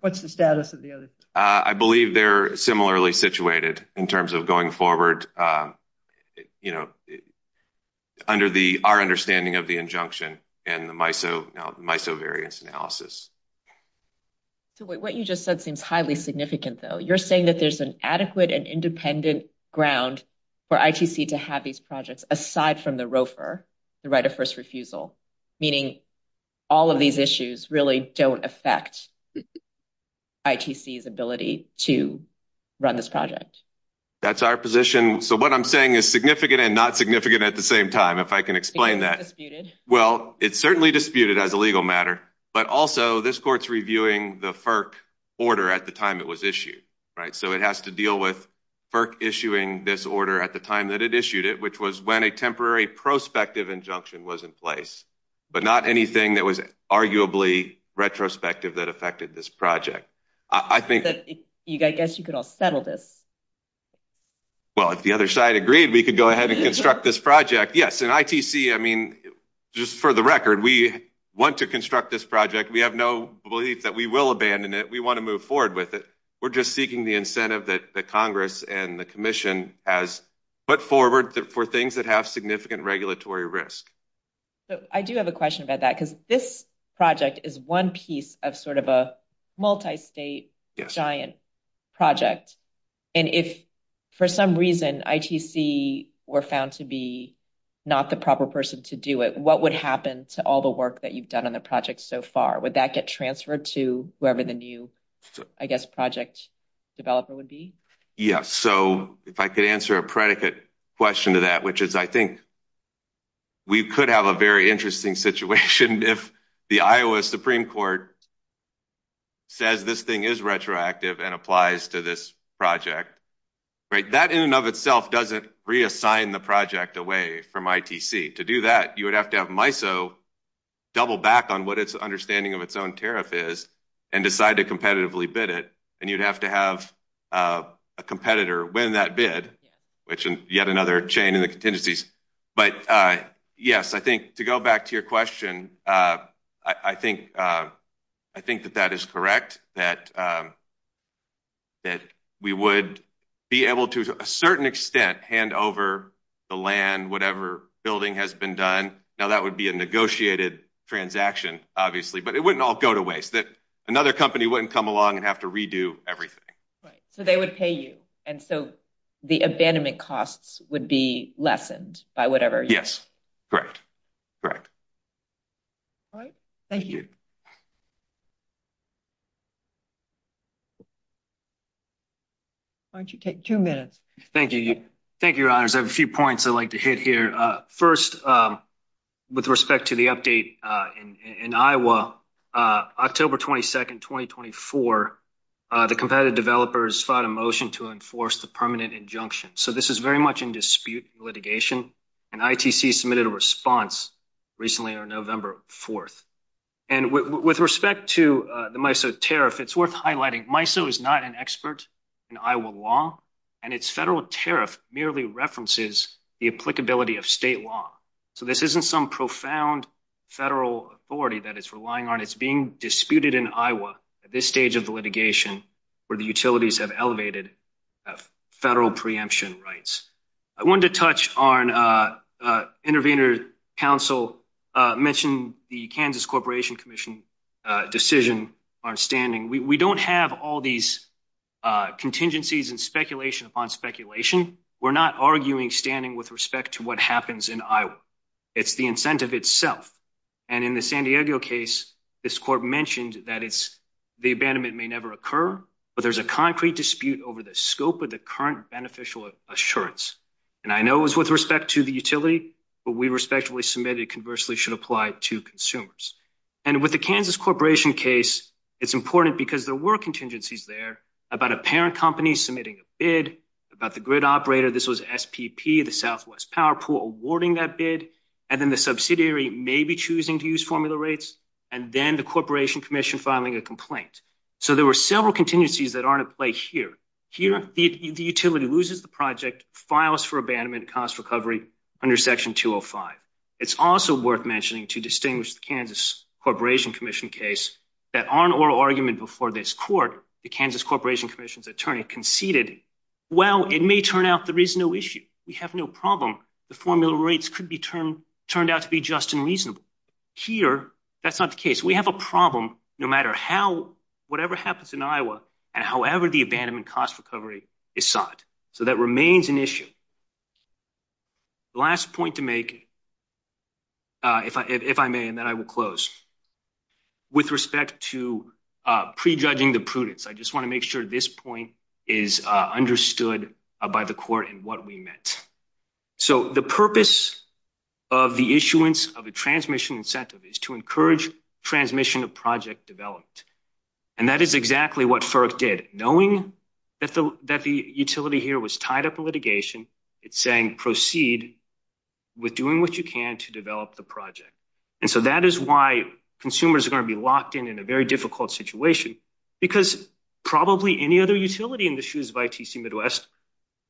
what's the status of the other three? I believe they're similarly situated in terms of going forward. Under our understanding of the injunction and the MISO variance analysis. What you just said seems highly significant though. You're saying that there's an adequate and independent ground for ITC to have these projects aside from the ROFR, the right of first refusal, meaning all of these issues really don't affect ITC's ability to run this project. That's our position. So what I'm saying is significant and not significant at the same time. If I can explain that. Well, it's certainly disputed as a legal matter, but also this court's reviewing the FERC order at the time it was issued, right? So it has to deal with FERC issuing this order at the time that it issued it, which was when a temporary prospective injunction was in place, but not anything that was arguably retrospective that affected this project. I guess you could all settle this. Well, if the other side agreed, we could go ahead and construct this project. Yes. And ITC, I mean, just for the record, we want to construct this project. We have no belief that we will abandon it. We want to move forward with it. We're just seeking the incentive that the Congress and the commission has put forward for things that have significant regulatory risk. I do have a question about that because this project is one piece of sort of a multi-state giant project. And if for some reason ITC were found to be not the proper person to do it, what would happen to all the work that you've done on the project so far? Would that get transferred to whoever the new, I guess, project developer would be? Yes. So if I could answer a predicate question to that, which is I think we could have a very interesting situation if the Iowa Supreme Court says this thing is retroactive and applies to this project, right? That in and of itself doesn't reassign the project away from ITC. To do that, you would have to have MISO double back on what its understanding of its own tariff is and decide to competitively bid it. And you'd have to have a competitor win that bid, which is yet another chain in the contingencies. But yes, I think to go back to your question, I think that that is correct, that we would be able to, to a certain extent, hand over the land, whatever building has been done. Now, that would be a negotiated transaction, obviously. But it wouldn't all go to waste. That another company wouldn't come along and have to redo everything. Right. So they would pay you. And so the abandonment costs would be lessened by whatever you do. Yes. Correct. Correct. All right. Thank you. Why don't you take two minutes? Thank you. Thank you, Your Honors. I have a few points I'd like to hit here. First, with respect to the update in Iowa, October 22nd, 2024, the competitive developers filed a motion to enforce the permanent injunction. So this is very much in dispute litigation. And ITC submitted a response recently on November 4th. And with respect to the MISO tariff, it's worth highlighting, MISO is not an expert in Iowa law. And its federal tariff merely references the applicability of state law. So this isn't some profound federal authority that it's relying on. It's being disputed in Iowa at this stage of the litigation where the utilities have elevated federal preemption rights. I wanted to touch on intervener counsel mentioned the Kansas Corporation Commission decision aren't standing. We don't have all these contingencies and speculation upon speculation. We're not arguing standing with respect to what happens in Iowa. It's the incentive itself. And in the San Diego case, this court mentioned that it's the abandonment may never occur, but there's a concrete dispute over the scope of the current beneficial assurance. And I know it was with respect to the utility, but we respectfully submitted conversely should apply to consumers. And with the Kansas Corporation case, it's important because there were contingencies there about a parent company submitting a bid about the grid operator. This was SPP, the Southwest Power Pool, awarding that bid. And then the subsidiary may be choosing to use formula rates. And then the Corporation Commission filing a complaint. So there were several contingencies that aren't at play here. Here, the utility loses the project, files for abandonment, cost recovery under section 205. It's also worth mentioning to distinguish the Kansas Corporation Commission case that on oral argument before this court, the Kansas Corporation Commission's attorney conceded, well, it may turn out there is no issue. We have no problem. The formula rates could be turned out to be just and reasonable. Here, that's not the case. We have a problem no matter how, whatever happens in Iowa and however the abandonment cost recovery is sought. So that remains an issue. The last point to make, if I may, and then I will close, with respect to prejudging the prudence. I just want to make sure this point is understood by the court and what we meant. So the purpose of the issuance of a transmission incentive is to encourage transmission of project development. And that is exactly what FERC did. Knowing that the utility here was tied up in litigation, it's saying proceed with doing what you can to develop the project. And so that is why consumers are going to be locked in in a very difficult situation because probably any other utility in the shoes of ITC Midwest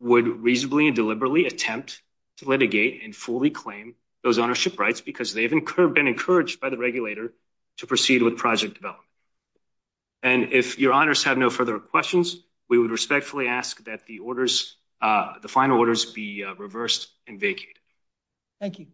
would reasonably and deliberately attempt to litigate and fully claim those ownership rights because they've been encouraged by the regulator to proceed with project development. And if your honors have no further questions, we would respectfully ask that the final orders be reversed and vacated. Thank you.